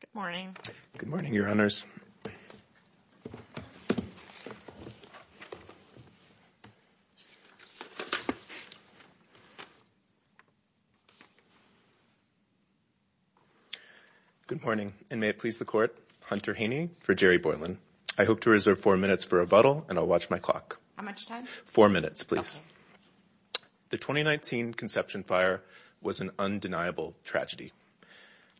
Good morning. Good morning, your honors. Good morning and may it please the court. Hunter Haney for Jerry Boylan. I hope to reserve four minutes for rebuttal and I'll watch my clock. How much time? Four minutes, please. The 2019 Conception Fire was an undeniable tragedy.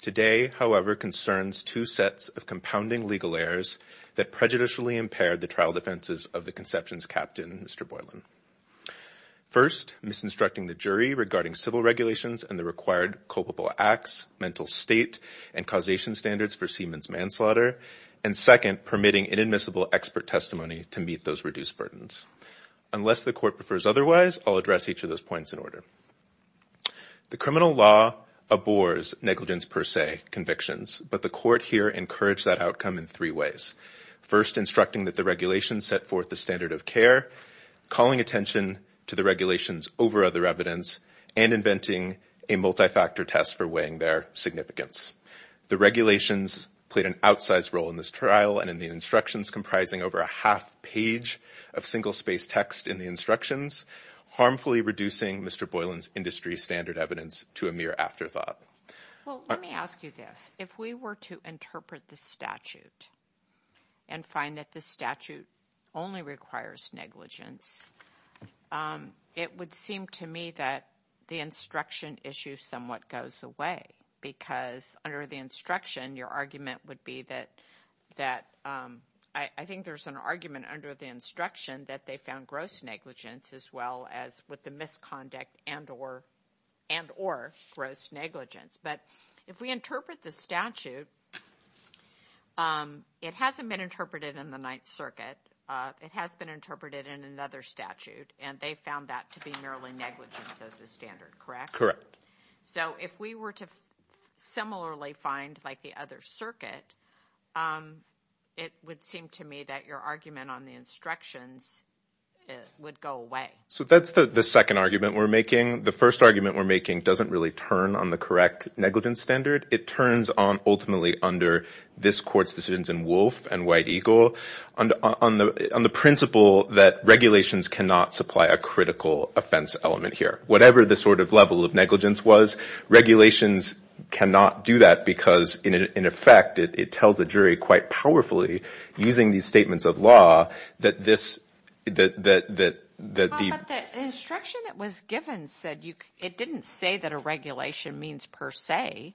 Today, however, concerns two sets of compounding legal errors that prejudicially impaired the trial defenses of the Conceptions Captain, Mr. Boylan. First, misinstructing the jury regarding civil regulations and the required culpable acts, mental state, and causation standards for Siemens manslaughter, and second, permitting inadmissible expert testimony to meet those reduced burdens. Unless the court prefers otherwise, I'll address each of those points in order. The criminal law abhors negligence per se convictions, but the court here encouraged that outcome in three ways. First, instructing that the regulations set forth the standard of care, calling attention to the regulations over other evidence, and inventing a multi-factor test for weighing their significance. The regulations played an outsized role in this trial and in the instructions comprising over a half-page of single-space text in the instructions, harmfully reducing Mr. Boylan's industry standard evidence to a mere afterthought. Well, let me ask you this. If we were to interpret the statute and find that the statute only requires negligence, it would seem to me that the instruction issue somewhat goes away because under the instruction, your argument would be that, I think there's an argument under the instruction that they found gross negligence as well as with the misconduct and or gross negligence. But if we interpret the statute, it hasn't been interpreted in the Ninth Circuit. It has been interpreted in another statute, and they found that to be merely negligence as the standard, correct? Correct. So if we were to similarly find like the other circuit, it would seem to me that your argument on the instructions would go away. So that's the second argument we're making. The first argument we're making doesn't really turn on the correct negligence standard. It turns on ultimately under this court's decisions in Wolf and White Eagle on the principle that regulations cannot supply a critical offense element here. Whatever the sort of level of negligence was, regulations cannot do that because in effect, it tells the jury quite powerfully using these statements of law that this – that the – But the instruction that was given said you – it didn't say that a regulation means per se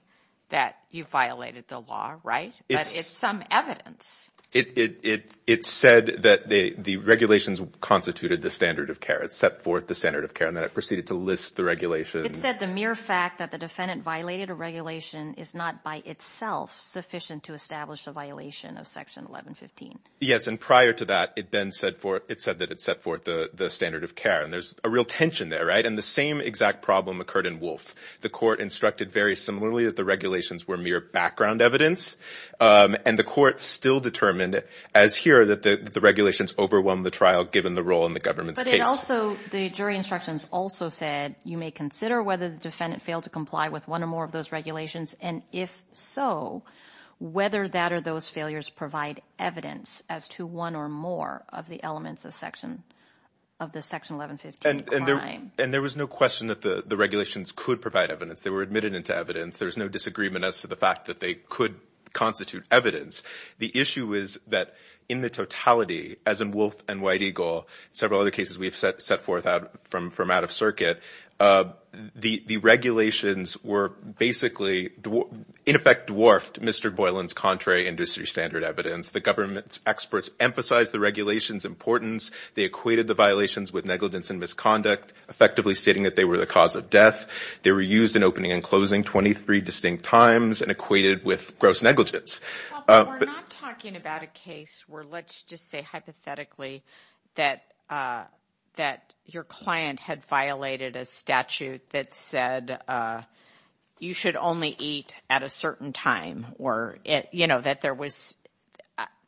that you violated the law, right? But it's some evidence. It said that the regulations constituted the standard of care. It set forth the standard of care, and then it proceeded to list the regulations. It said the mere fact that the defendant violated a regulation is not by itself sufficient to establish a violation of Section 1115. Yes, and prior to that, it then said for – it said that it set forth the standard of care, and there's a real tension there, right? And the same exact problem occurred in Wolf. The court instructed very similarly that the regulations were mere background evidence, and the court still determined as here that the regulations overwhelmed the trial given the role in the government's case. But it also – the jury instructions also said you may consider whether the defendant failed to comply with one or more of those regulations, and if so, whether that or those failures provide evidence as to one or more of the elements of Section – of the Section 1115 crime. And there was no question that the regulations could provide evidence. They were admitted into evidence. There was no disagreement as to the fact that they could constitute evidence. The issue is that in the totality, as in Wolf and White Eagle, several other cases we've set forth from out of circuit, the regulations were basically – in effect dwarfed Mr. Boylan's contrary industry standard evidence. The government's experts emphasized the regulations' importance. They equated the violations with negligence and misconduct, effectively stating that they were the cause of death. They were used in opening and closing 23 distinct times and negligence. Well, but we're not talking about a case where, let's just say hypothetically, that your client had violated a statute that said you should only eat at a certain time or, you know, that there was –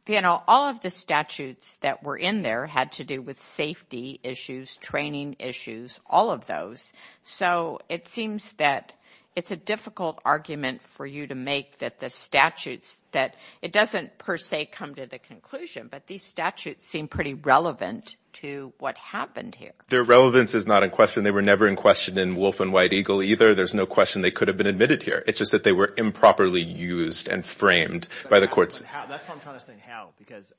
you know, all of the statutes that were in there had to do with safety issues, training issues, all of those. So it seems that it's a difficult argument for you to make that the statutes that – it doesn't per se come to the conclusion, but these statutes seem pretty relevant to what happened here. Their relevance is not in question. They were never in question in Wolf and White Eagle either. There's no question they could have been admitted here. It's just that they were improperly used and framed by the courts. That's what I'm trying to say, how, because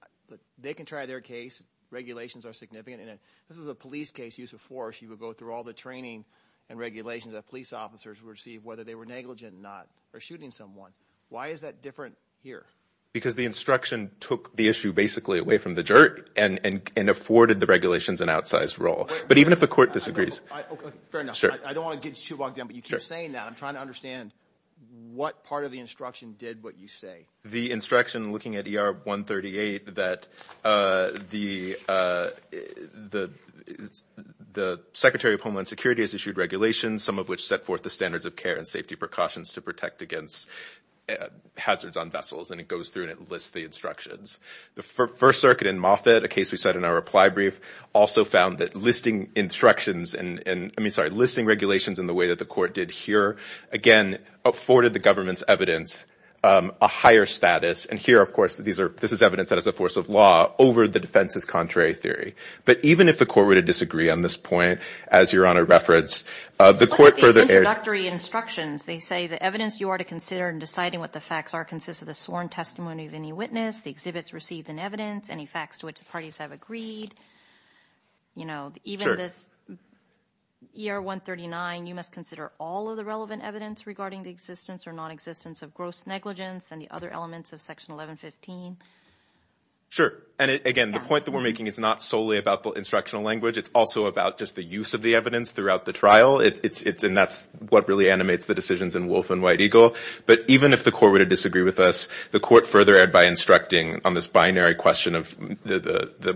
they can try their case. Regulations are significant. This is a police case, use of force. You would go through all the training and regulations that police officers would receive, whether they were negligent or not, or shooting someone. Why is that different here? Because the instruction took the issue basically away from the juror and afforded the regulations an outsized role. But even if a court disagrees – Fair enough. I don't want to get you too bogged down, but you keep saying that. I'm trying to understand what part of the instruction did what you say. The instruction looking at ER 138 that the Secretary of Homeland Security has issued regulations, some of which set forth the standards of care and safety precautions to protect against hazards on vessels. And it goes through and it lists the instructions. The First Circuit in Moffitt, a case we said in our reply brief, also found that listing instructions – I mean, sorry, listing regulations in the way that the court did here, again, afforded the government's evidence a higher status. And here, of course, this is evidence that is a force of law over the defense's contrary theory. But even if the court were to disagree on this point, as Your Honor referenced, the court further – But what about the introductory instructions? They say the evidence you are to consider in deciding what the facts are consists of the sworn testimony of any witness, the exhibits received in evidence, any facts to which the parties have agreed. You know, even this – ER 139, you must consider all of the relevant evidence regarding the existence or nonexistence of gross negligence and the other elements of Section 1115. Sure. And again, the point that we're making is not solely about the instructional language. It's also about just the use of the evidence throughout the trial. It's – and that's what really animates the decisions in Wolf and White Eagle. But even if the court were to disagree with us, the court furthered by instructing on this binary question of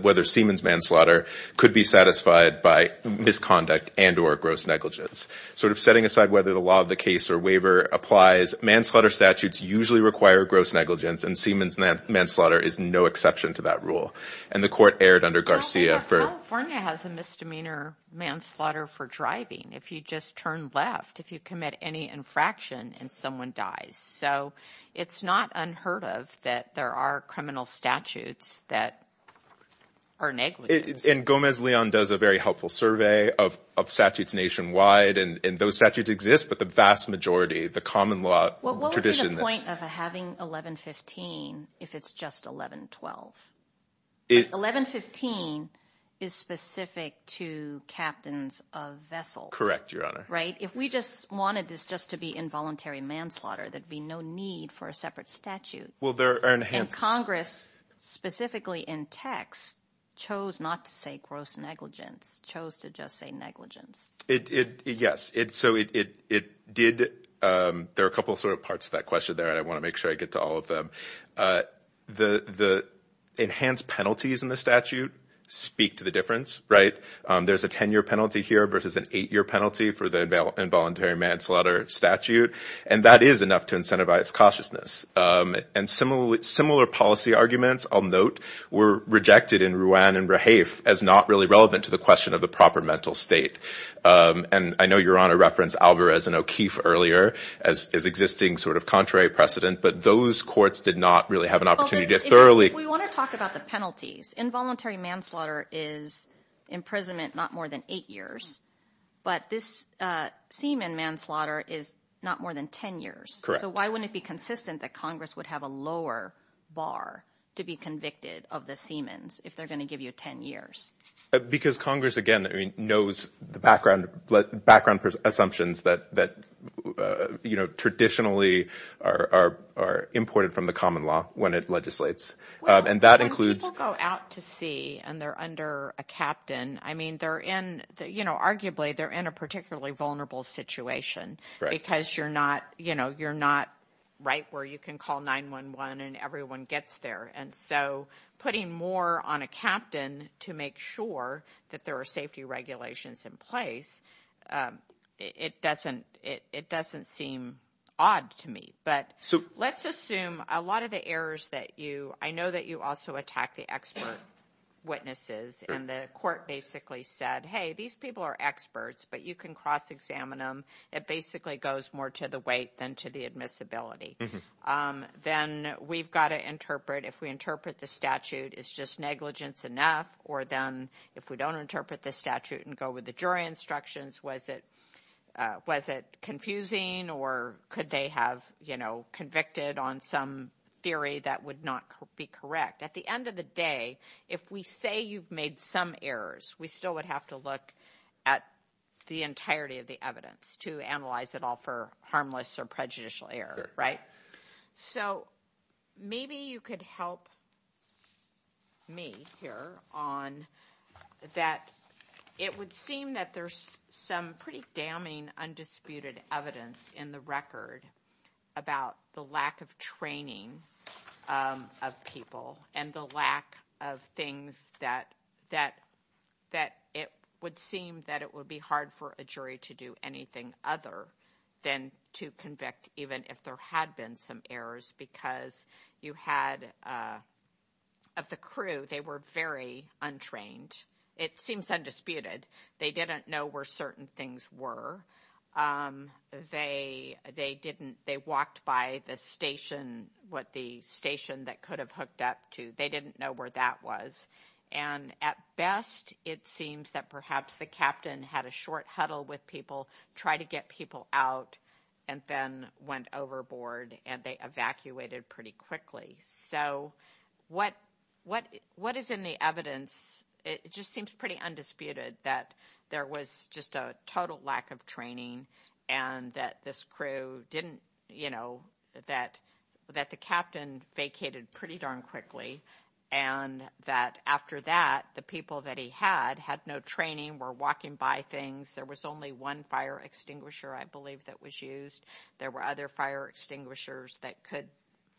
whether Siemens manslaughter could be satisfied by misconduct and or gross negligence. Sort of setting aside whether the law of the case or waiver applies, manslaughter statutes usually require gross negligence and Siemens manslaughter is no exception to that rule. And the court erred under Garcia for – California has a misdemeanor manslaughter for driving. If you just turn left, if you commit any infraction and someone dies. So it's not unheard of that there are criminal statutes that are negligent. And Gomez-Leon does a very helpful survey of statutes nationwide and those statutes exist, but the vast majority, the common law tradition – What's the point of having 1115 if it's just 1112? 1115 is specific to captains of Correct, Your Honor. Right? If we just wanted this just to be involuntary manslaughter, there'd be no need for a separate statute. Well, there are – And Congress specifically in text chose not to say gross negligence, chose to just say negligence. Yes. So it did – there are a couple sort of parts to that question there and I want to make sure I get to all of them. The enhanced penalties in the statute speak to the difference, right? There's a 10-year penalty here versus an eight-year penalty for the involuntary manslaughter statute and that is enough to incentivize cautiousness. And similar policy arguments, I'll note, were rejected in Ruan and Rahafe as not really relevant to the question of the proper mental state. And I know Your Honor referenced Alvarez and O'Keefe earlier as existing sort of contrary precedent, but those courts did not really have an opportunity to thoroughly – If we want to talk about the penalties, involuntary manslaughter is imprisonment not more than eight years, but this semen manslaughter is not more than 10 years. Correct. So why wouldn't it be consistent that Congress would have a lower bar to be convicted of the semens if they're going to give you 10 years? Because Congress, again, knows the background assumptions that traditionally are imported from the common law when it legislates. And that includes – Well, when people go out to sea and they're under a captain, I mean, they're in – arguably they're in a particularly vulnerable situation because you're not right where you can call 911 and everyone gets there. And so putting more on a captain to make sure that there are safety regulations in place, it doesn't seem odd to me. But let's assume a lot of the errors that you – I know that you also attack the expert witnesses and the court basically said, hey, these people are experts, but you can cross-examine them. It basically goes more to the weight than to the admissibility. Then we've got to interpret – if we interpret the statute, is just negligence enough? Or then if we don't interpret the statute and go with the jury instructions, was it confusing or could they have convicted on some theory that would not be correct? At the end of the day, if we say you've made some errors, we still would have to look at the entirety of the evidence to analyze it all for harmless or prejudicial error, right? So maybe you could help me here on – that it would seem that there's some pretty damning, undisputed evidence in the record about the lack of training of people and the lack of things that it would seem that it would be hard for a jury to do anything other than to convict even if there had been some errors because you had – of the crew, they were very untrained. It seems undisputed. They didn't know where certain things were. They didn't – they walked by the station, what the station that could have hooked up to. They didn't know where that was. And at best, it seems that perhaps the captain had a short huddle with people, tried to get people out, and then went overboard and they evacuated pretty quickly. So what is in the evidence? It just seems pretty undisputed that there was just a total lack of training and that this crew didn't – that the captain vacated pretty darn quickly and that after that, the people that he had had no training, were walking by things. There was only one fire extinguisher, I believe, that was used. There were other fire extinguishers that could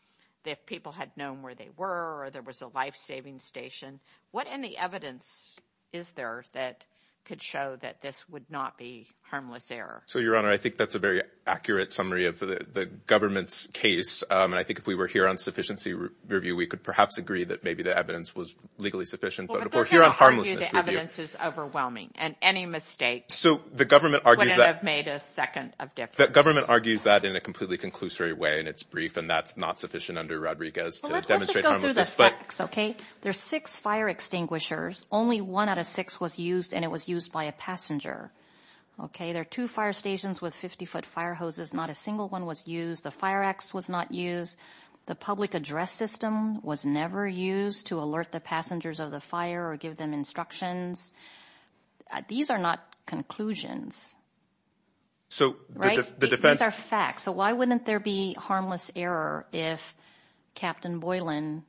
– if people had known where they were or there was a life-saving station, what in the evidence is there that could show that this would not be harmless error? So, Your Honor, I think that's a very accurate summary of the government's case. I think if we were here on sufficiency review, we could perhaps agree that maybe the evidence was legally sufficient. But if we're here on harmlessness review – Well, but they're going to argue the evidence is overwhelming and any mistake – So, the government argues that –– would end up made a second of difference. The government argues that in a completely conclusory way and it's brief and that's not sufficient under Rodriguez to demonstrate harmlessness. These are facts, okay? There are six fire extinguishers. Only one out of six was used and it was used by a passenger, okay? There are two fire stations with 50-foot fire hoses. Not a single one was used. The fire axe was not used. The public address system was never used to alert the passengers of the fire or give them instructions. These are not conclusions. Right? So, the defense – So, why wouldn't there be harmless error if Captain Boylan,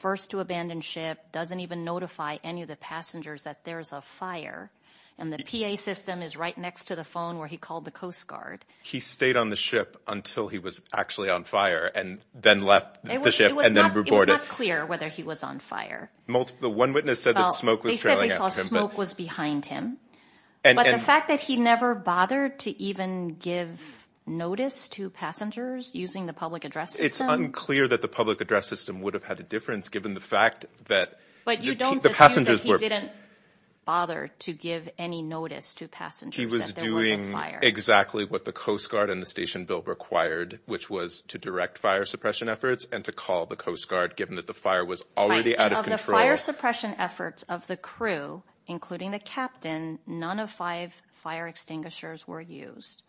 first to abandon ship, doesn't even notify any of the passengers that there's a fire and the PA system is right next to the phone where he called the Coast Guard? He stayed on the ship until he was actually on fire and then left the ship and then reported. It was not clear whether he was on fire. One witness said that smoke was trailing after him. Well, they said they saw smoke was behind him. But the fact that he never bothered to even give notice to passengers using the public address system? It's unclear that the public address system would have had a difference given the fact that the passengers were – But you don't assume that he didn't bother to give any notice to passengers that there was a fire. He was doing exactly what the Coast Guard and the station bill required, which was to direct fire suppression efforts and to call the Coast Guard given that the fire was already out of control. Right. Of the fire suppression efforts of the crew, including the captain, none of five fire extinguishers were used.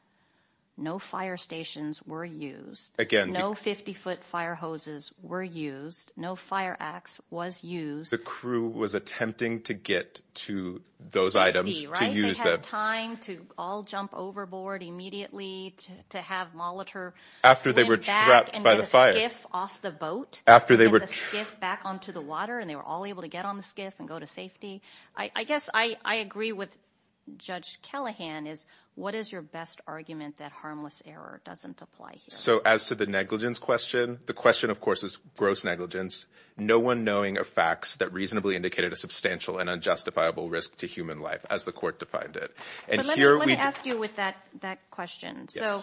No fire stations were used. Again, the – No 50-foot fire hoses were used. No fire axe was used. The crew was attempting to get to those items to use them. 50, right? They had time to all jump overboard immediately to have monitor – After they were trapped by the fire. And then back and get a skiff off the boat. After they were – And get the skiff back onto the water and they were all able to get on the skiff and go to safety. I guess I agree with Judge Callahan is what is your best argument that harmless error doesn't apply here? So as to the negligence question, the question of course is gross negligence, no one knowing of facts that reasonably indicated a substantial and unjustifiable risk to human life as the court defined it. But let me – And here we – Let me ask you with that question. Yes.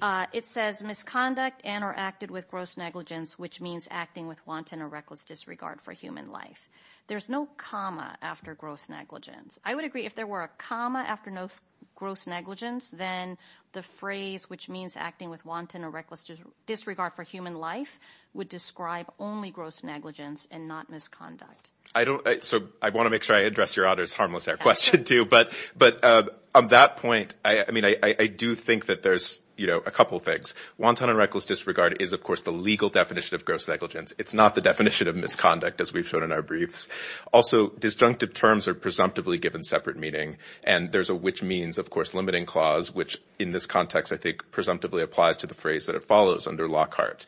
So it says misconduct and or acted with gross negligence, which means acting with wanton or reckless disregard for human life. There's no comma after gross negligence. I would agree if there were a comma after gross negligence, then the phrase which means acting with wanton or reckless disregard for human life would describe only gross negligence and not misconduct. I don't – So I want to make sure I address your honor's harmless error question too. But on that point, I mean I do think that there's, you know, a couple of things. Wanton and reckless disregard is of course the legal definition of gross negligence. It's not the definition of misconduct as we've shown in our briefs. Also disjunctive terms are presumptively given separate meaning and there's a which means of course limiting clause which in this context I think presumptively applies to the phrase that it follows under Lockhart.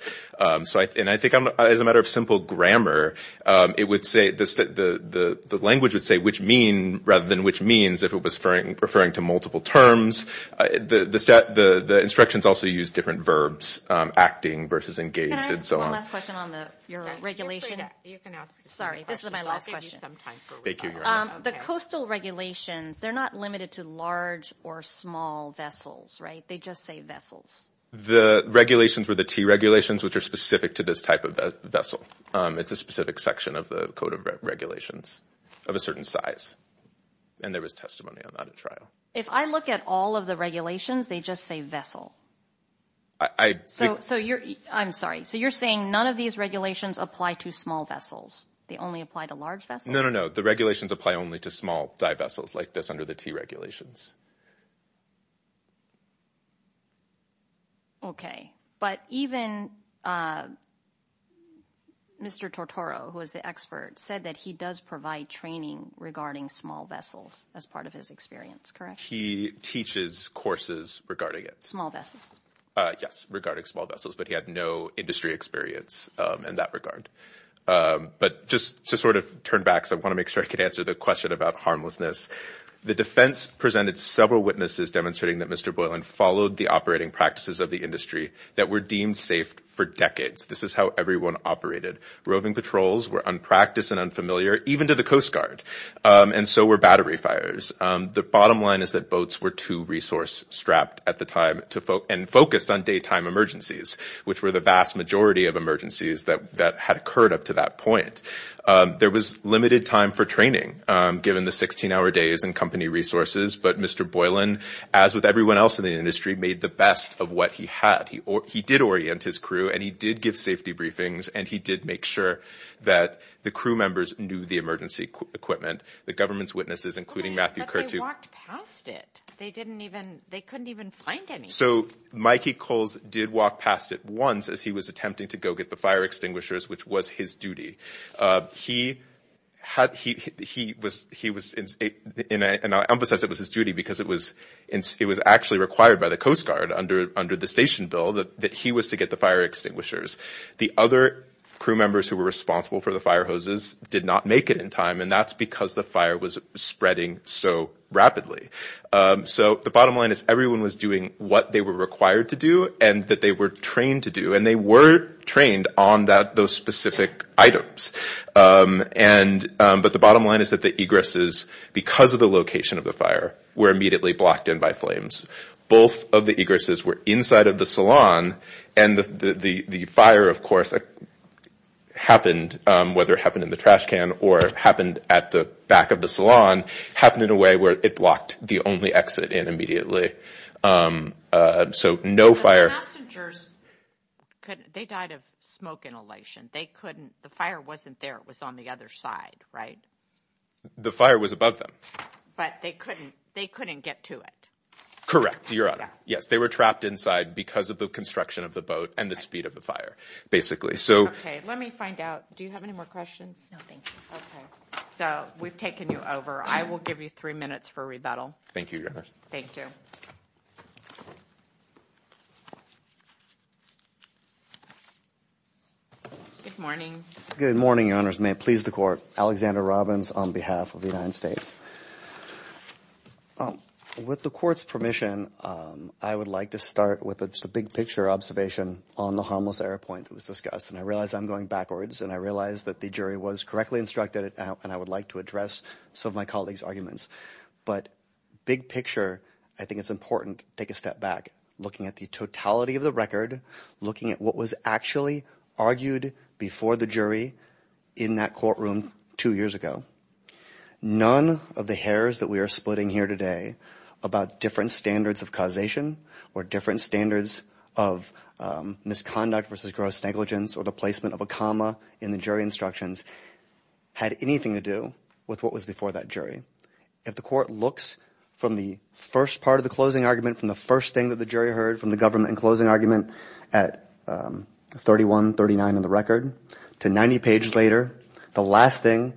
So I – And I think as a matter of simple grammar, it would say – the language would say which mean rather than which means if it was referring to multiple terms. The instructions also use different verbs, acting versus engaged and so on. Can I ask one last question on the – your regulation? You can ask – Sorry. This is my last question. I'll give you some time for – The coastal regulations, they're not limited to large or small vessels, right? They just say vessels. The regulations were the T regulations which are specific to this type of vessel. It's a specific section of the Code of Regulations of a certain size. And there was testimony on that at trial. If I look at all of the regulations, they just say vessel. I – So you're – I'm sorry. So you're saying none of these regulations apply to small vessels. They only apply to large vessels? No, no, no. The regulations apply only to small dive vessels like this under the T regulations. Okay. But even Mr. Tortoro who is the expert said that he does provide training regarding small vessels as part of his experience, correct? He teaches courses regarding it. Small vessels? Yes, regarding small vessels, but he had no industry experience in that regard. But just to sort of turn back, so I want to make sure I can answer the question about harmlessness, the defense presented several witnesses demonstrating that Mr. Boylan followed the operating practices of the industry that were deemed safe for decades. This is how everyone operated. Roving patrols were unpracticed and unfamiliar even to the Coast Guard, and so were battery fires. The bottom line is that boats were too resource strapped at the time to – and focused on daytime emergencies, which were the vast majority of emergencies that had occurred up to that point. There was limited time for training given the 16-hour days and company resources, but Mr. Boylan, as with everyone else in the industry, made the best of what he had. He did orient his crew and he did give safety briefings and he did make sure that the crew members knew the emergency equipment. The government's witnesses, including Matthew Kertu – But they walked past it. They didn't even – they couldn't even find any. So Mikey Coles did walk past it once as he was attempting to go get the fire extinguishers, which was his duty. He was – and I'll emphasize it was his duty because it was actually required by the Coast Guard under the station bill that he was to get the fire extinguishers. The other crew members who were responsible for the fire hoses did not make it in time, and that's because the fire was spreading so rapidly. So the bottom line is everyone was doing what they were required to do and that they were trained to do. And they were trained on that – those specific items. But the bottom line is that the egresses, because of the location of the fire, were immediately blocked in by flames. Both of the egresses were inside of the salon, and the fire, of course, happened – whether it happened in the trash can or happened at the back of the salon – happened in a way where it blocked the only exit in immediately. So no fire – But the passengers couldn't – they died of smoke inhalation. They couldn't – the fire wasn't there. It was on the other side, right? The fire was above them. But they couldn't – they couldn't get to it. Correct, Your Honor. Yes. They were trapped inside because of the construction of the boat and the speed of the fire, basically. Okay. Let me find out – do you have any more questions? No. Thank you. Okay. So we've taken you over. I will give you three minutes for rebuttal. Thank you, Your Honors. Thank you. Good morning. Good morning, Your Honors. May it please the Court. Alexander Robbins on behalf of the United States. With the Court's permission, I would like to start with a big-picture observation on the harmless error point that was discussed, and I realize I'm going backwards, and I realize that the jury was correctly instructed, and I would like to address some of my colleague's But big picture, I think it's important to take a step back, looking at the totality of the record, looking at what was actually argued before the jury in that courtroom two years ago. None of the errors that we are splitting here today about different standards of causation or different standards of misconduct versus gross negligence or the placement of a comma in the jury instructions had anything to do with what was before that jury. If the Court looks from the first part of the closing argument, from the first thing that the jury heard from the government in closing argument at 31, 39 in the record, to 90 pages later, the last thing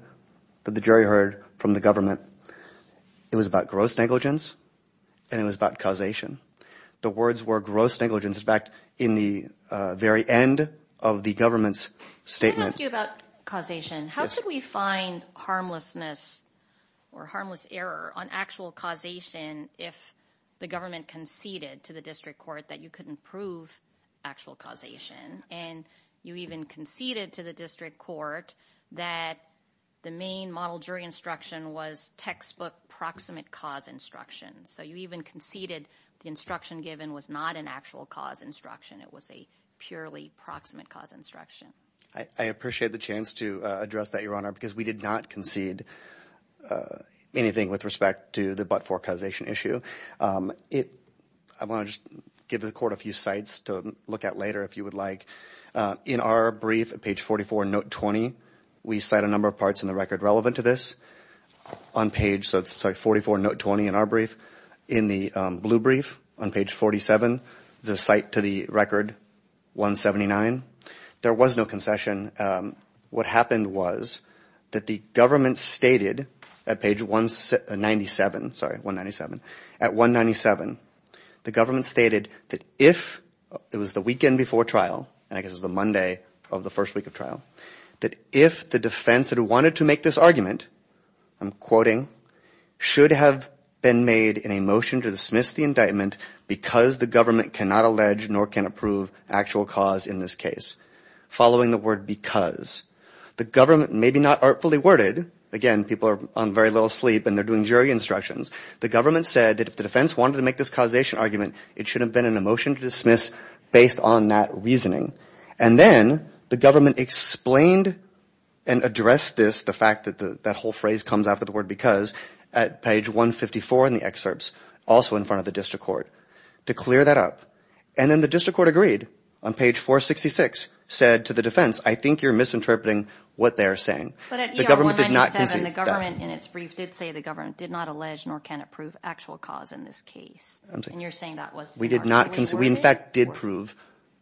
that the jury heard from the government, it was about gross negligence, and it was about causation. The words were gross negligence, in fact, in the very end of the government's statement. Can I ask you about causation? How should we find harmlessness or harmless error on actual causation if the government conceded to the district court that you couldn't prove actual causation, and you even conceded to the district court that the main model jury instruction was textbook proximate cause instruction? So you even conceded the instruction given was not an actual cause instruction. It was a purely proximate cause instruction. I appreciate the chance to address that, Your Honor, because we did not concede anything with respect to the but-for causation issue. I want to just give the Court a few sites to look at later if you would like. In our brief at page 44, note 20, we cite a number of parts in the record relevant to this on page 44, note 20 in our brief. In the blue brief on page 47, the site to the record, 179, there was no concession. What happened was that the government stated at page 197, the government stated that if it was the weekend before trial, and I guess it was the Monday of the first week of trial, that if the defense that wanted to make this argument, I'm quoting, should have been made in a motion to dismiss the indictment because the government cannot allege nor can approve actual cause in this case, following the word because. The government, maybe not artfully worded, again, people are on very little sleep and they're doing jury instructions. The government said that if the defense wanted to make this causation argument, it should have been in a motion to dismiss based on that reasoning. Then the government explained and addressed this, the fact that that whole phrase comes after the word because at page 154 in the excerpts, also in front of the district court, to clear that up. Then the district court agreed on page 466, said to the defense, I think you're misinterpreting what they're saying. The government did not concede that. But at ER 197, the government in its brief did say the government did not allege nor can approve actual cause in this case. And you're saying that was artfully worded? We did not concede. We, in fact, did prove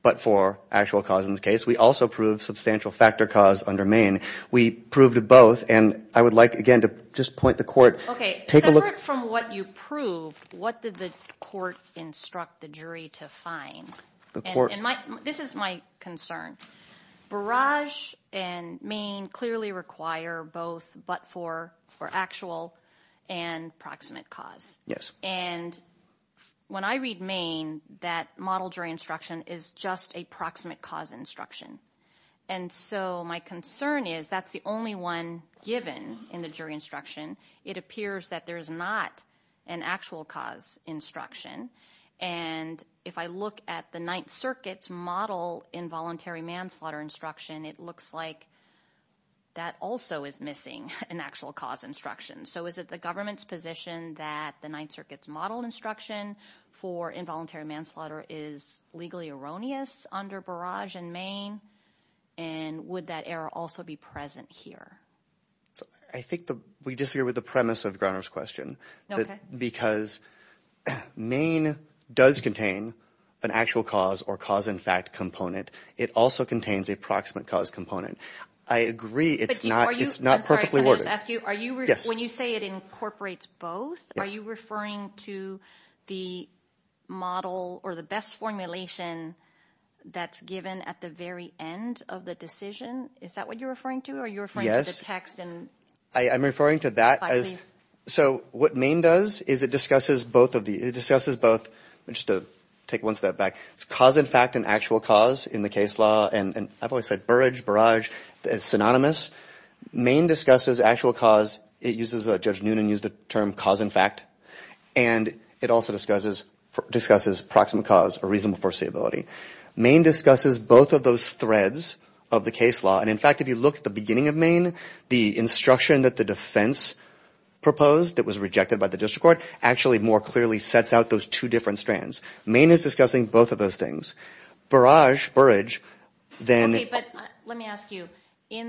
but for actual cause in this case. We also proved substantial factor cause under Maine. We proved both. I would like, again, to just point the court. Okay. Separate from what you proved, what did the court instruct the jury to find? This is my concern. Barrage and Maine clearly require both but for actual and proximate cause. Yes. And when I read Maine, that model jury instruction is just a proximate cause instruction. And so my concern is that's the only one given in the jury instruction. It appears that there's not an actual cause instruction. And if I look at the Ninth Circuit's model involuntary manslaughter instruction, it looks like that also is missing an actual cause instruction. So is it the government's position that the Ninth Circuit's model instruction for involuntary manslaughter is legally erroneous under Barrage and Maine? And would that error also be present here? I think we disagree with the premise of Groner's question. Because Maine does contain an actual cause or cause in fact component. It also contains a proximate cause component. I agree it's not perfectly worded. When you say it incorporates both, are you referring to the model or the best formulation that's given at the very end of the decision? Is that what you're referring to? Are you referring to the text? I'm referring to that. So what Maine does is it discusses both of the – it discusses both – just to take one step back. It's cause in fact and actual cause in the case law. And I've always said Burrage, Barrage is synonymous. Maine discusses actual cause. It uses – Judge Noonan used the term cause in fact. And it also discusses proximate cause or reasonable foreseeability. Maine discusses both of those threads of the case law. And in fact, if you look at the beginning of Maine, the instruction that the defense proposed that was rejected by the district court actually more clearly sets out those two different strands. Maine is discussing both of those things. Barrage, Burrage, then –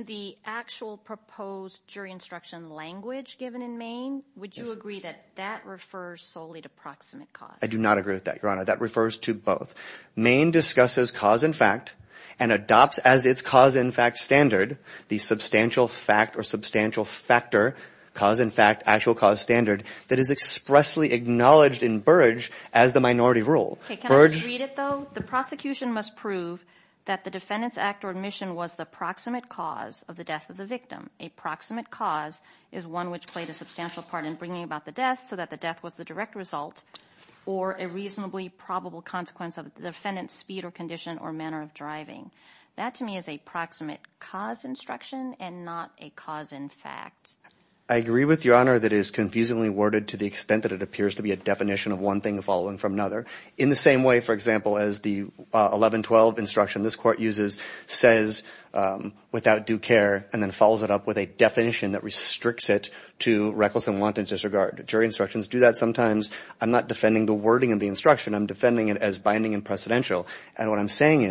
The actual proposed jury instruction language given in Maine, would you agree that that refers solely to proximate cause? I do not agree with that, Your Honor. That refers to both. Maine discusses cause in fact and adopts as its cause in fact standard the substantial fact or substantial factor, cause in fact, actual cause standard that is expressly acknowledged in Burrage as the minority rule. Burrage – Can I just read it though? The prosecution must prove that the defendant's act or admission was the proximate cause of the death of the victim. A proximate cause is one which played a substantial part in bringing about the death so that the death was the direct result or a reasonably probable consequence of the defendant's speed or condition or manner of driving. That to me is a proximate cause instruction and not a cause in fact. I agree with Your Honor that it is confusingly worded to the extent that it appears to be a definition of one thing following from another. In the same way, for example, as the 1112 instruction this court uses says without due care and then follows it up with a definition that restricts it to reckless and wanton disregard. Jury instructions do that sometimes. I'm not defending the wording of the instruction. I'm defending it as binding and precedential. And what I'm saying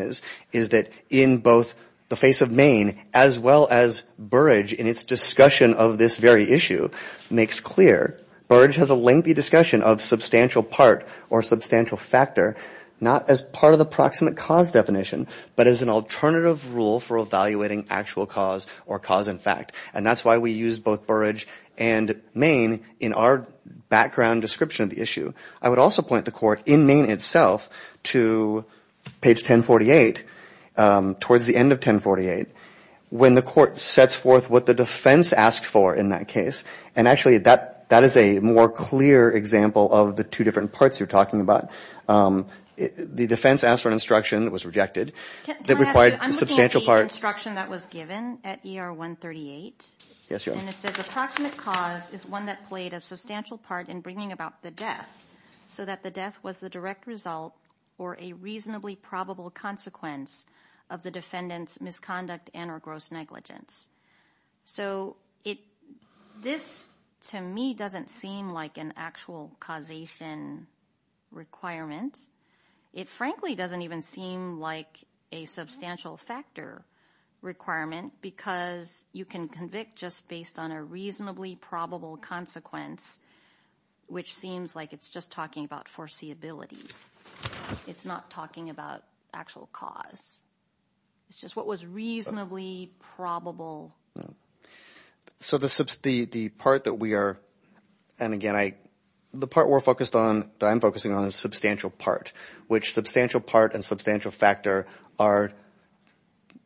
is that in both the face of Maine as well as Burrage in its discussion of this very issue makes clear Burrage has a lengthy discussion of substantial part or substantial factor not as part of the proximate cause definition but as an alternative rule for evaluating actual cause or cause in fact. And that's why we use both Burrage and Maine in our background description of the issue. I would also point the court in Maine itself to page 1048, towards the end of 1048, when the court sets forth what the defense asked for in that case, and actually that is a more clear example of the two different parts you're talking about. The defense asked for an instruction that was rejected that required a substantial part I'm looking at the instruction that was given at ER 138 and it says the proximate cause is one that played a substantial part in bringing about the death so that the death was the direct result or a reasonably probable consequence of the defendant's misconduct and or gross negligence. So this to me doesn't seem like an actual causation requirement. It frankly doesn't even seem like a substantial factor requirement because you can convict just based on a reasonably probable consequence, which seems like it's just talking about foreseeability. It's not talking about actual cause. It's just what was reasonably probable. So the part that we are, and again I, the part we're focused on, that I'm focusing on is substantial part, which substantial part and substantial factor are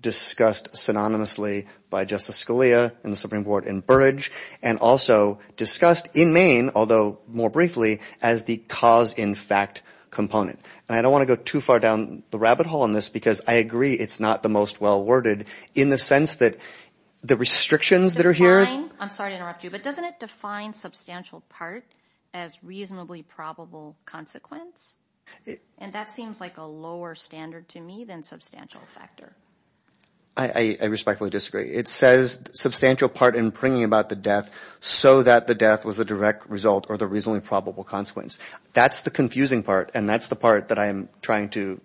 discussed synonymously by Justice Scalia and the Supreme Court in Burrage and also discussed in Maine, although more briefly, as the cause in fact component and I don't want to go too far down the rabbit hole on this because I agree it's not the most well worded in the sense that the restrictions that are here. I'm sorry to interrupt you, but doesn't it define substantial part as reasonably probable consequence? And that seems like a lower standard to me than substantial factor. I respectfully disagree. It says substantial part in bringing about the death so that the death was a direct result or the reasonably probable consequence. That's the confusing part and that's the part that I'm trying to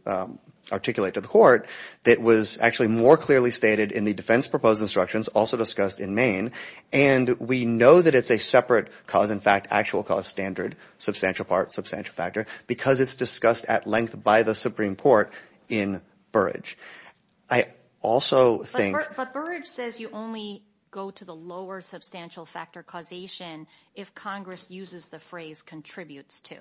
articulate to the court that was actually more clearly stated in the defense proposed instructions, also discussed in Maine, and we know that it's a separate cause in fact, actual cause standard, substantial part, substantial factor, because it's discussed at length by the Supreme Court in Burrage. I also think. But Burrage says you only go to the lower substantial factor causation if Congress uses the phrase contributes to.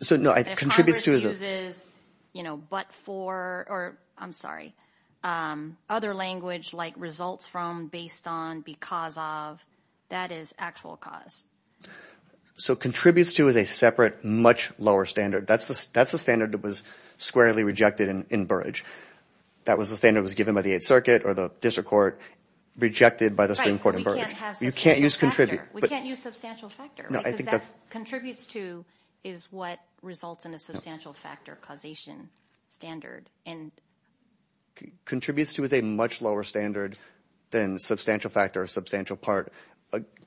So no, it contributes to. If Congress uses, you know, but for, or I'm sorry, other language like results from, based on, because of, that is actual cause. So contributes to is a separate, much lower standard. That's the standard that was squarely rejected in Burrage. That was the standard that was given by the Eighth Circuit or the district court rejected by the Supreme Court in Burrage. Right, so we can't have substantial factor. You can't use contribute. We can't use substantial factor. No, I think that's. Because that contributes to is what results in a substantial factor causation standard. Contributes to is a much lower standard than substantial factor or substantial part,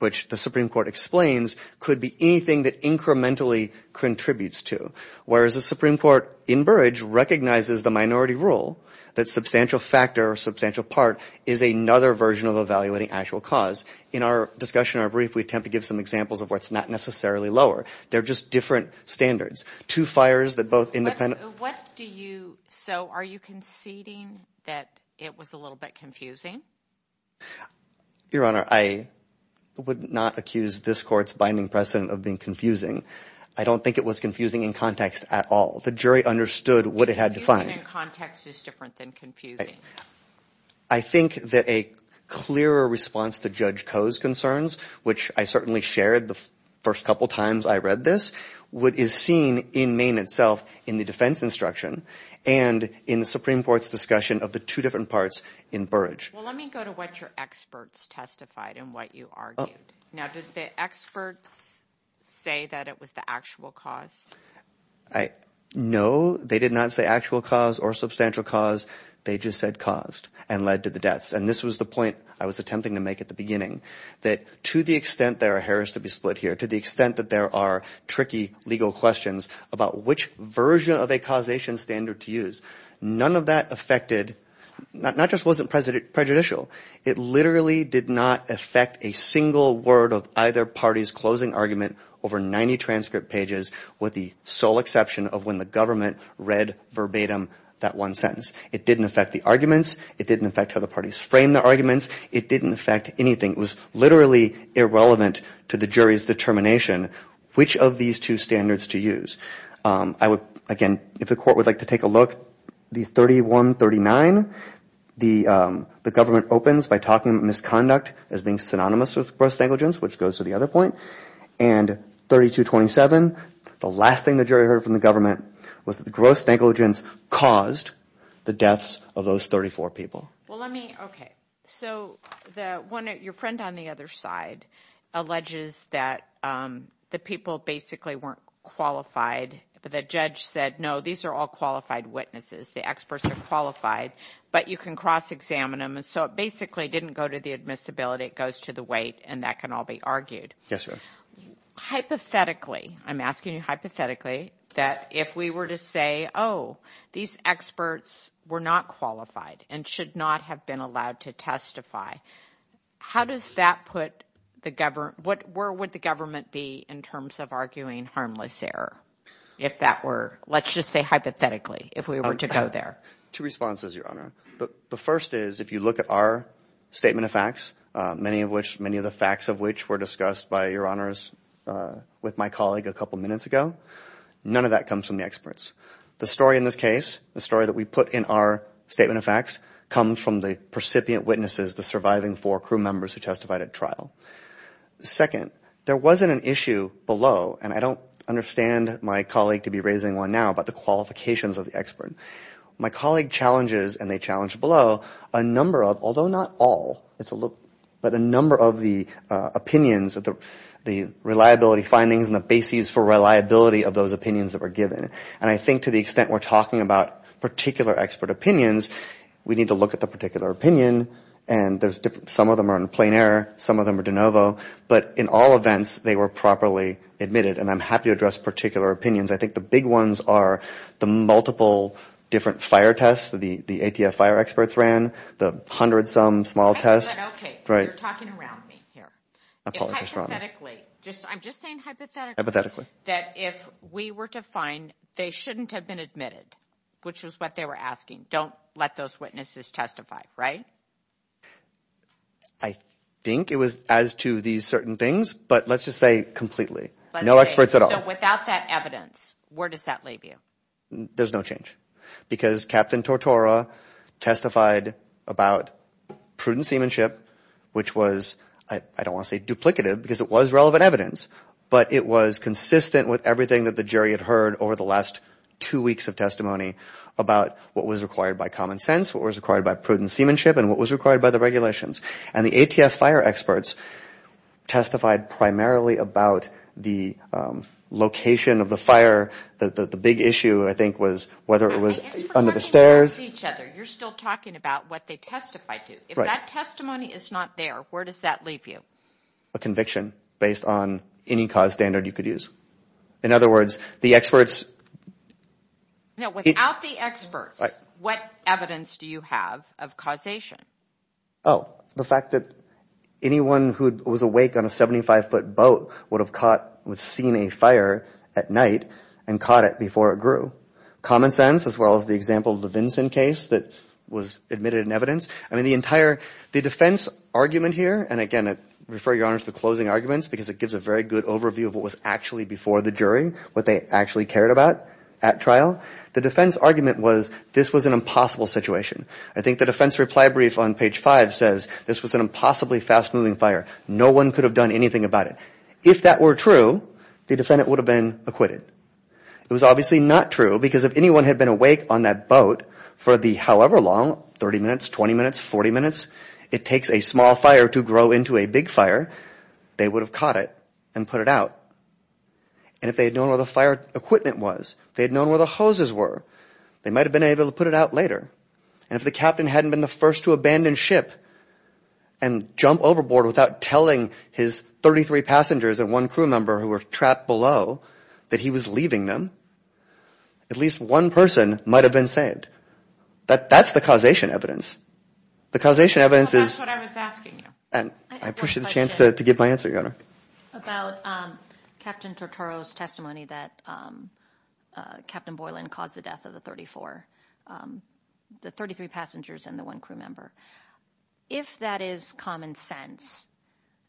which the Supreme Court explains could be anything that incrementally contributes to, whereas the Supreme Court in Burrage recognizes the minority rule that substantial factor or substantial part is another version of evaluating actual cause. In our discussion, our brief, we attempt to give some examples of where it's not necessarily lower. They're just different standards. Two fires that both independent. What do you, so are you conceding that it was a little bit confusing? Your Honor, I would not accuse this court's binding precedent of being confusing. I don't think it was confusing in context at all. The jury understood what it had to find. Confusing in context is different than confusing. I think that a clearer response to Judge Koh's concerns, which I certainly shared the first couple of times I read this, what is seen in Maine itself in the defense instruction and in the Supreme Court's discussion of the two different parts in Burrage. Well, let me go to what your experts testified and what you argued. Now, did the experts say that it was the actual cause? No, they did not say actual cause or substantial cause. They just said caused and led to the deaths. This was the point I was attempting to make at the beginning. To the extent there are errors to be split here, to the extent that there are tricky legal questions about which version of a causation standard to use, none of that affected, not just wasn't prejudicial, it literally did not affect a single word of either party's closing argument over 90 transcript pages with the sole exception of when the government read verbatim that one sentence. It didn't affect the arguments. It didn't affect how the parties framed the arguments. It didn't affect anything. It was literally irrelevant to the jury's determination which of these two standards to use. I would, again, if the court would like to take a look, the 31-39, the government opens by talking about misconduct as being synonymous with gross negligence, which goes to the other point, and 32-27, the last thing the jury heard from the government was that the gross negligence was synonymous with the deaths of those 34 people. Your friend on the other side alleges that the people basically weren't qualified, but the judge said, no, these are all qualified witnesses, the experts are qualified, but you can cross-examine them, and so it basically didn't go to the admissibility, it goes to the weight, and that can all be argued. Yes, ma'am. Hypothetically, I'm asking you hypothetically, that if we were to say, oh, these experts were not qualified and should not have been allowed to testify, how does that put the government, where would the government be in terms of arguing harmless error? If that were, let's just say hypothetically, if we were to go there. Two responses, Your Honor. The first is, if you look at our statement of facts, many of which, many of the facts of which were discussed by Your Honors with my colleague a couple minutes ago, none of that comes from the experts. The story in this case, the story that we put in our statement of facts, comes from the recipient witnesses, the surviving four crew members who testified at trial. Second, there wasn't an issue below, and I don't understand my colleague to be raising one now about the qualifications of the expert. My colleague challenges, and they challenged below, a number of, although not all, but a number of the opinions, the reliability findings, and the bases for reliability of those opinions that were given, and I think to the extent we're talking about particular expert opinions, we need to look at the particular opinion, and some of them are in plain error, some of them are de novo, but in all events, they were properly admitted, and I'm happy to address particular opinions. I think the big ones are the multiple different fire tests that the ATF fire experts ran, the hundred-some small tests. Okay, you're talking around me here. Hypothetically, I'm just saying hypothetically, that if we were to find they shouldn't have been admitted, which is what they were asking, don't let those witnesses testify, right? I think it was as to these certain things, but let's just say completely, no experts at all. So without that evidence, where does that leave you? There's no change, because Captain Tortora testified about prudent seamanship, which was, I don't want to say duplicative, because it was relevant evidence, but it was consistent with everything that the jury had heard over the last two weeks of testimony about what was required by common sense, what was required by prudent seamanship, and what was required by the regulations, and the ATF fire experts testified primarily about the location of the fire. The big issue, I think, was whether it was under the stairs. You're still talking about what they testified to. If that testimony is not there, where does that leave you? A conviction, based on any cause standard you could use. In other words, the experts... No, without the experts, what evidence do you have of causation? Oh, the fact that anyone who was awake on a 75-foot boat would have seen a fire at night and caught it before it grew. Common sense, as well as the example of the Vinson case that was admitted in evidence. The defense argument here, and again, I refer your Honor to the closing arguments, because it gives a very good overview of what was actually before the jury, what they actually cared about at trial. The defense argument was, this was an impossible situation. I think the defense reply brief on page five says, this was an impossibly fast-moving fire. No one could have done anything about it. If that were true, the defendant would have been acquitted. It was obviously not true, because if anyone had been awake on that boat for the however long, 30 minutes, 20 minutes, 40 minutes, it takes a small fire to grow into a big fire, they would have caught it and put it out. If they had known where the fire equipment was, if they had known where the hoses were, they might have been able to put it out later. If the captain hadn't been the first to abandon ship and jump overboard without telling his 33 passengers and one crew member who were trapped below that he was leaving them, at least one person might have been saved. That's the causation evidence. The causation evidence is... That's what I was asking you. I appreciate the chance to give my answer, Your Honor. About Captain Tortoro's testimony that Captain Boylan caused the death of the 34... The 33 passengers and the one crew member. If that is common sense,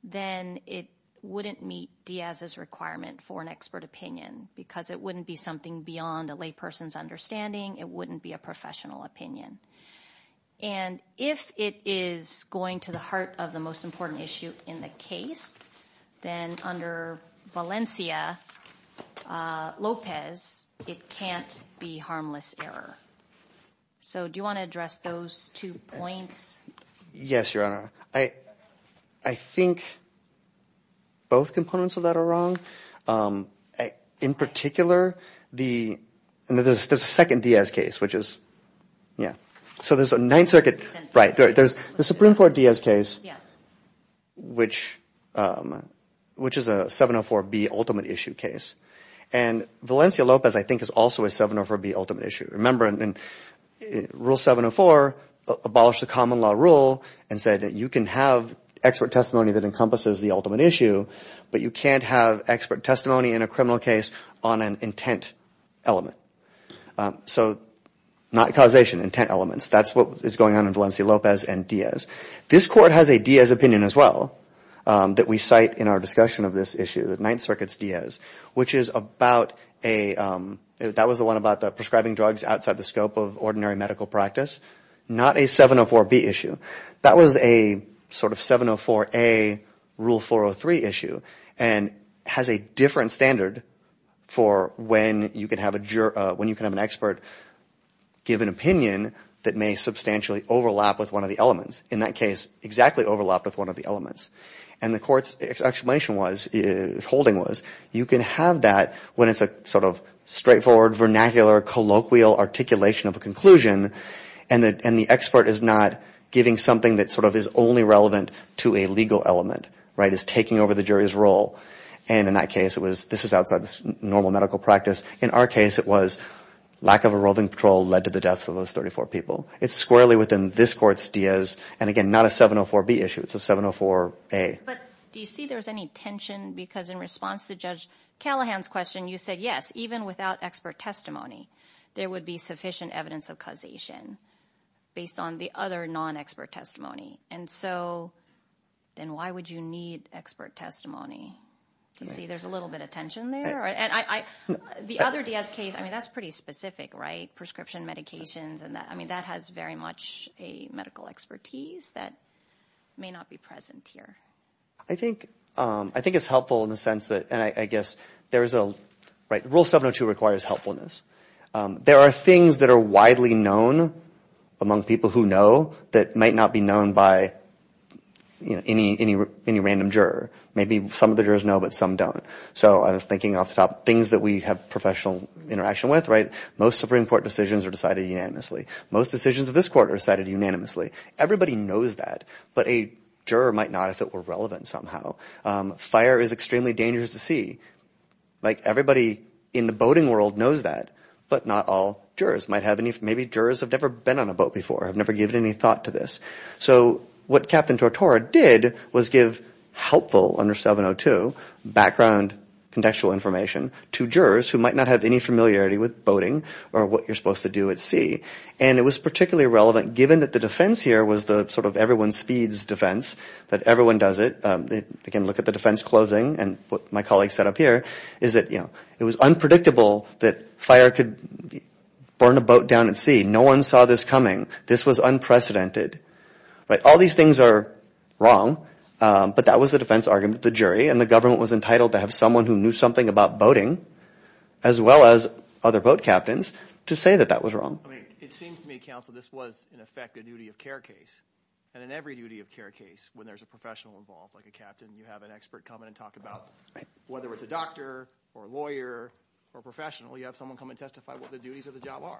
then it wouldn't meet Diaz's requirement for an expert opinion, because it wouldn't be something beyond a layperson's understanding. It wouldn't be a professional opinion. And if it is going to the heart of the most important issue in the case, then under Valencia Lopez, it can't be harmless error. So do you want to address those two points? Yes, Your Honor. I think both components of that are wrong. In particular, there's a Supreme Court Diaz case, which is a 704B ultimate issue case. And Valencia Lopez, I think, is also a 704B ultimate issue. Remember, Rule 704 abolished the common law rule and said that you can have expert testimony that encompasses the ultimate issue, but you can't have expert testimony in a criminal case on an intent element. So not causation, intent elements. That's what is going on in Valencia Lopez and Diaz. This Court has a Diaz opinion as well that we cite in our discussion of this issue, the Ninth Circuit's Diaz, which is about a... That was the one about the prescribing drugs outside the scope of ordinary medical practice. Not a 704B issue. That was a sort of 704A, Rule 403 issue, and has a different standard for when you can have an expert give an opinion that may substantially overlap with one of the elements. In that case, exactly overlapped with one of the elements. And the Court's explanation was, holding was, you can have that when it's a sort of straightforward, vernacular, colloquial articulation of a conclusion. And the expert is not giving something that sort of is only relevant to a legal element, right? Is taking over the jury's role. And in that case, it was... This is outside this normal medical practice. In our case, it was lack of a roving patrol led to the deaths of those 34 people. It's squarely within this Court's Diaz, and again, not a 704B issue. It's a 704A. But do you see there's any tension? Because in response to Judge Callahan's question, you said, yes, even without expert testimony, there would be sufficient evidence of causation based on the other non-expert testimony. And so, then why would you need expert testimony? Do you see there's a little bit of tension there? The other Diaz case, I mean, that's pretty specific, right? Prescription medications and that. I mean, that has very much a medical expertise that may not be present here. I think it's helpful in the sense that, and I guess there's a... Rule 702 requires helpfulness. There are things that are widely known among people who know that might not be known by any random juror. Maybe some of the jurors know, but some don't. So I was thinking off the top, things that we have professional interaction with, right? Most Supreme Court decisions are decided unanimously. Most decisions of this Court are decided unanimously. Everybody knows that, but a juror might not if it were relevant somehow. Fire is extremely dangerous to see. Like everybody in the boating world knows that, but not all jurors. Maybe jurors have never been on a boat before, have never given any thought to this. So what Captain Tortora did was give helpful, under 702, background contextual information to jurors who might not have any familiarity with boating or what you're supposed to do at sea. And it was particularly relevant given that the defense here was the sort of everyone speeds defense, that everyone does it. Again, look at the defense closing and what my colleague set up here, is that it was unpredictable that fire could burn a boat down at sea. No one saw this coming. This was unprecedented. All these things are wrong, but that was the defense argument of the jury, and the government was entitled to have someone who knew something about boating, as well as other boat captains, to say that that was wrong. I mean, it seems to me, counsel, this was, in effect, a duty of care case, and in every duty of care case, when there's a professional involved, like a captain, you have an expert come in and talk about, whether it's a doctor or a lawyer or a professional, you have someone come and testify what the duties of the job are.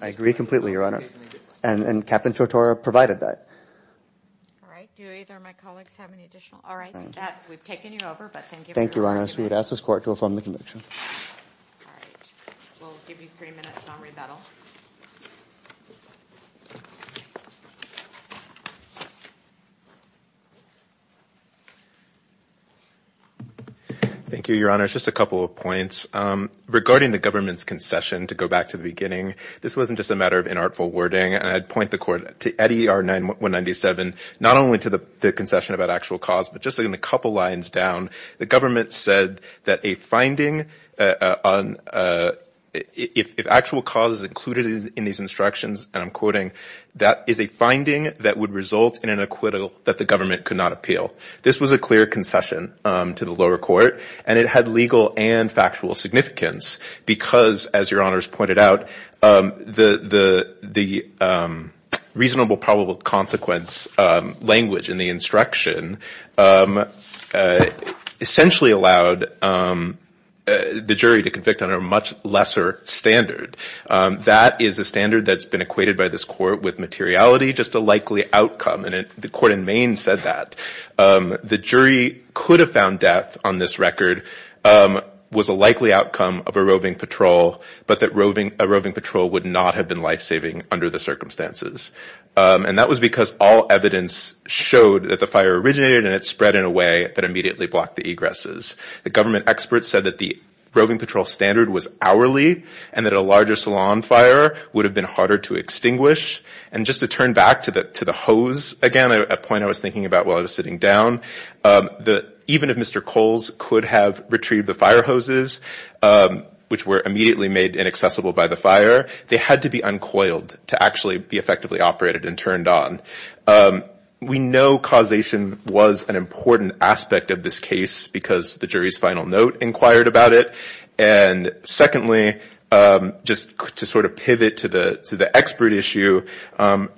I agree completely, Your Honor, and Captain Tortora provided that. All right. Do either of my colleagues have any additional? All right. We've taken you over, but thank you. Thank you, Your Honor. I would ask this Court to affirm the conviction. Thank you, Your Honor. Just a couple of points. Regarding the government's concession, to go back to the beginning, this wasn't just a matter of inartful wording. I'd point the Court to EDR-197, not only to the concession about actual cause, but just putting a couple lines down, the government said that a finding on, if actual cause is included in these instructions, and I'm quoting, that is a finding that would result in an acquittal that the government could not appeal. This was a clear concession to the lower court, and it had legal and factual significance, because as Your Honors pointed out, the reasonable probable consequence language in the instruction essentially allowed the jury to convict on a much lesser standard. That is a standard that's been equated by this Court with materiality, just a likely outcome, and the Court in Maine said that. The jury could have found death on this record was a likely outcome of a roving patrol, but that a roving patrol would not have been life-saving under the circumstances, and that was because all evidence showed that the fire originated and it spread in a way that immediately blocked the egresses. The government experts said that the roving patrol standard was hourly, and that a larger salon fire would have been harder to extinguish, and just to turn back to the hose again, a point I was thinking about while I was sitting down, that even if Mr. Coles could have retrieved the fire hoses, which were immediately made inaccessible by the fire, they had to be uncoiled to actually be effectively operated and turned on. We know causation was an important aspect of this case because the jury's final note inquired about it, and secondly, just to sort of pivot to the expert issue,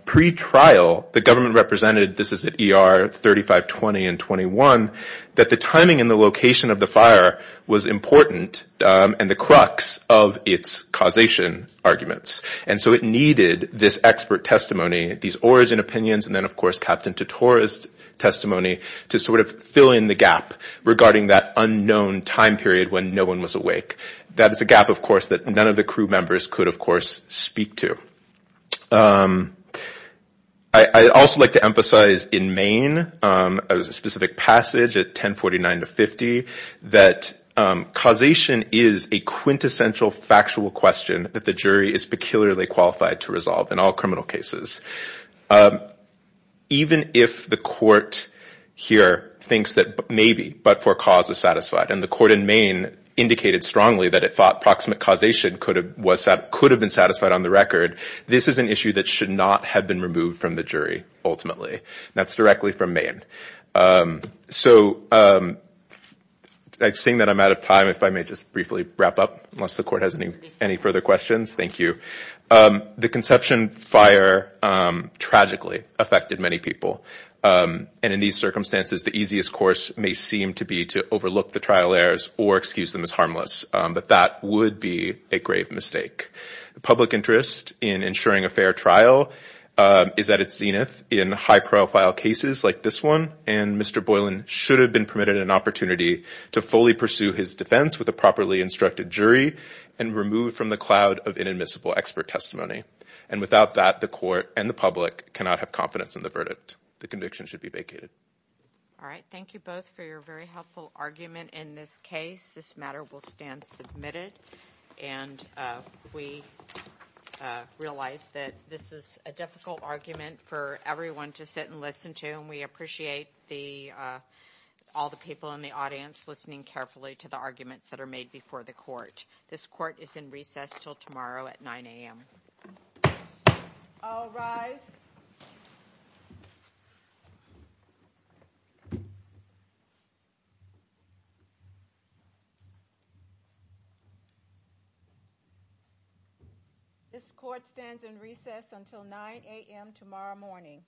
pre-trial the government represented, this is at ER 3520 and 21, that the timing and the location of the fire was important, and the crux of its causation arguments, and so it needed this expert testimony, these origin opinions, and then of course, Captain Titor's testimony to sort of fill in the gap regarding that unknown time period when no one was awake. That is a gap, of course, that none of the crew members could of course speak to. I'd also like to emphasize in Maine, there's a specific passage at 1049 to 50, that causation is a quintessential factual question that the jury is peculiarly qualified to resolve in all criminal cases. Even if the court here thinks that maybe but for cause is satisfied, and the court in Maine indicated strongly that it thought proximate causation could have been satisfied on the record, this is an issue that should not have been removed from the jury ultimately. That's directly from Maine. So, seeing that I'm out of time, if I may just briefly wrap up, unless the court has any further questions, thank you. The Conception Fire tragically affected many people, and in these circumstances, the easiest course may seem to be to overlook the or excuse them as harmless, but that would be a grave mistake. The public interest in ensuring a fair trial is at its zenith in high-profile cases like this one, and Mr. Boylan should have been permitted an opportunity to fully pursue his defense with a properly instructed jury, and removed from the cloud of inadmissible expert testimony. And without that, the court and the public cannot have confidence in the verdict. The conviction should be vacated. All right, thank you both for your very helpful argument in this case. This matter will stand submitted, and we realize that this is a difficult argument for everyone to sit and listen to, and we appreciate the all the people in the audience listening carefully to the arguments that are made before the court. This court is in recess till tomorrow at 9 a.m. All rise. This court stands in recess until 9 a.m. tomorrow morning.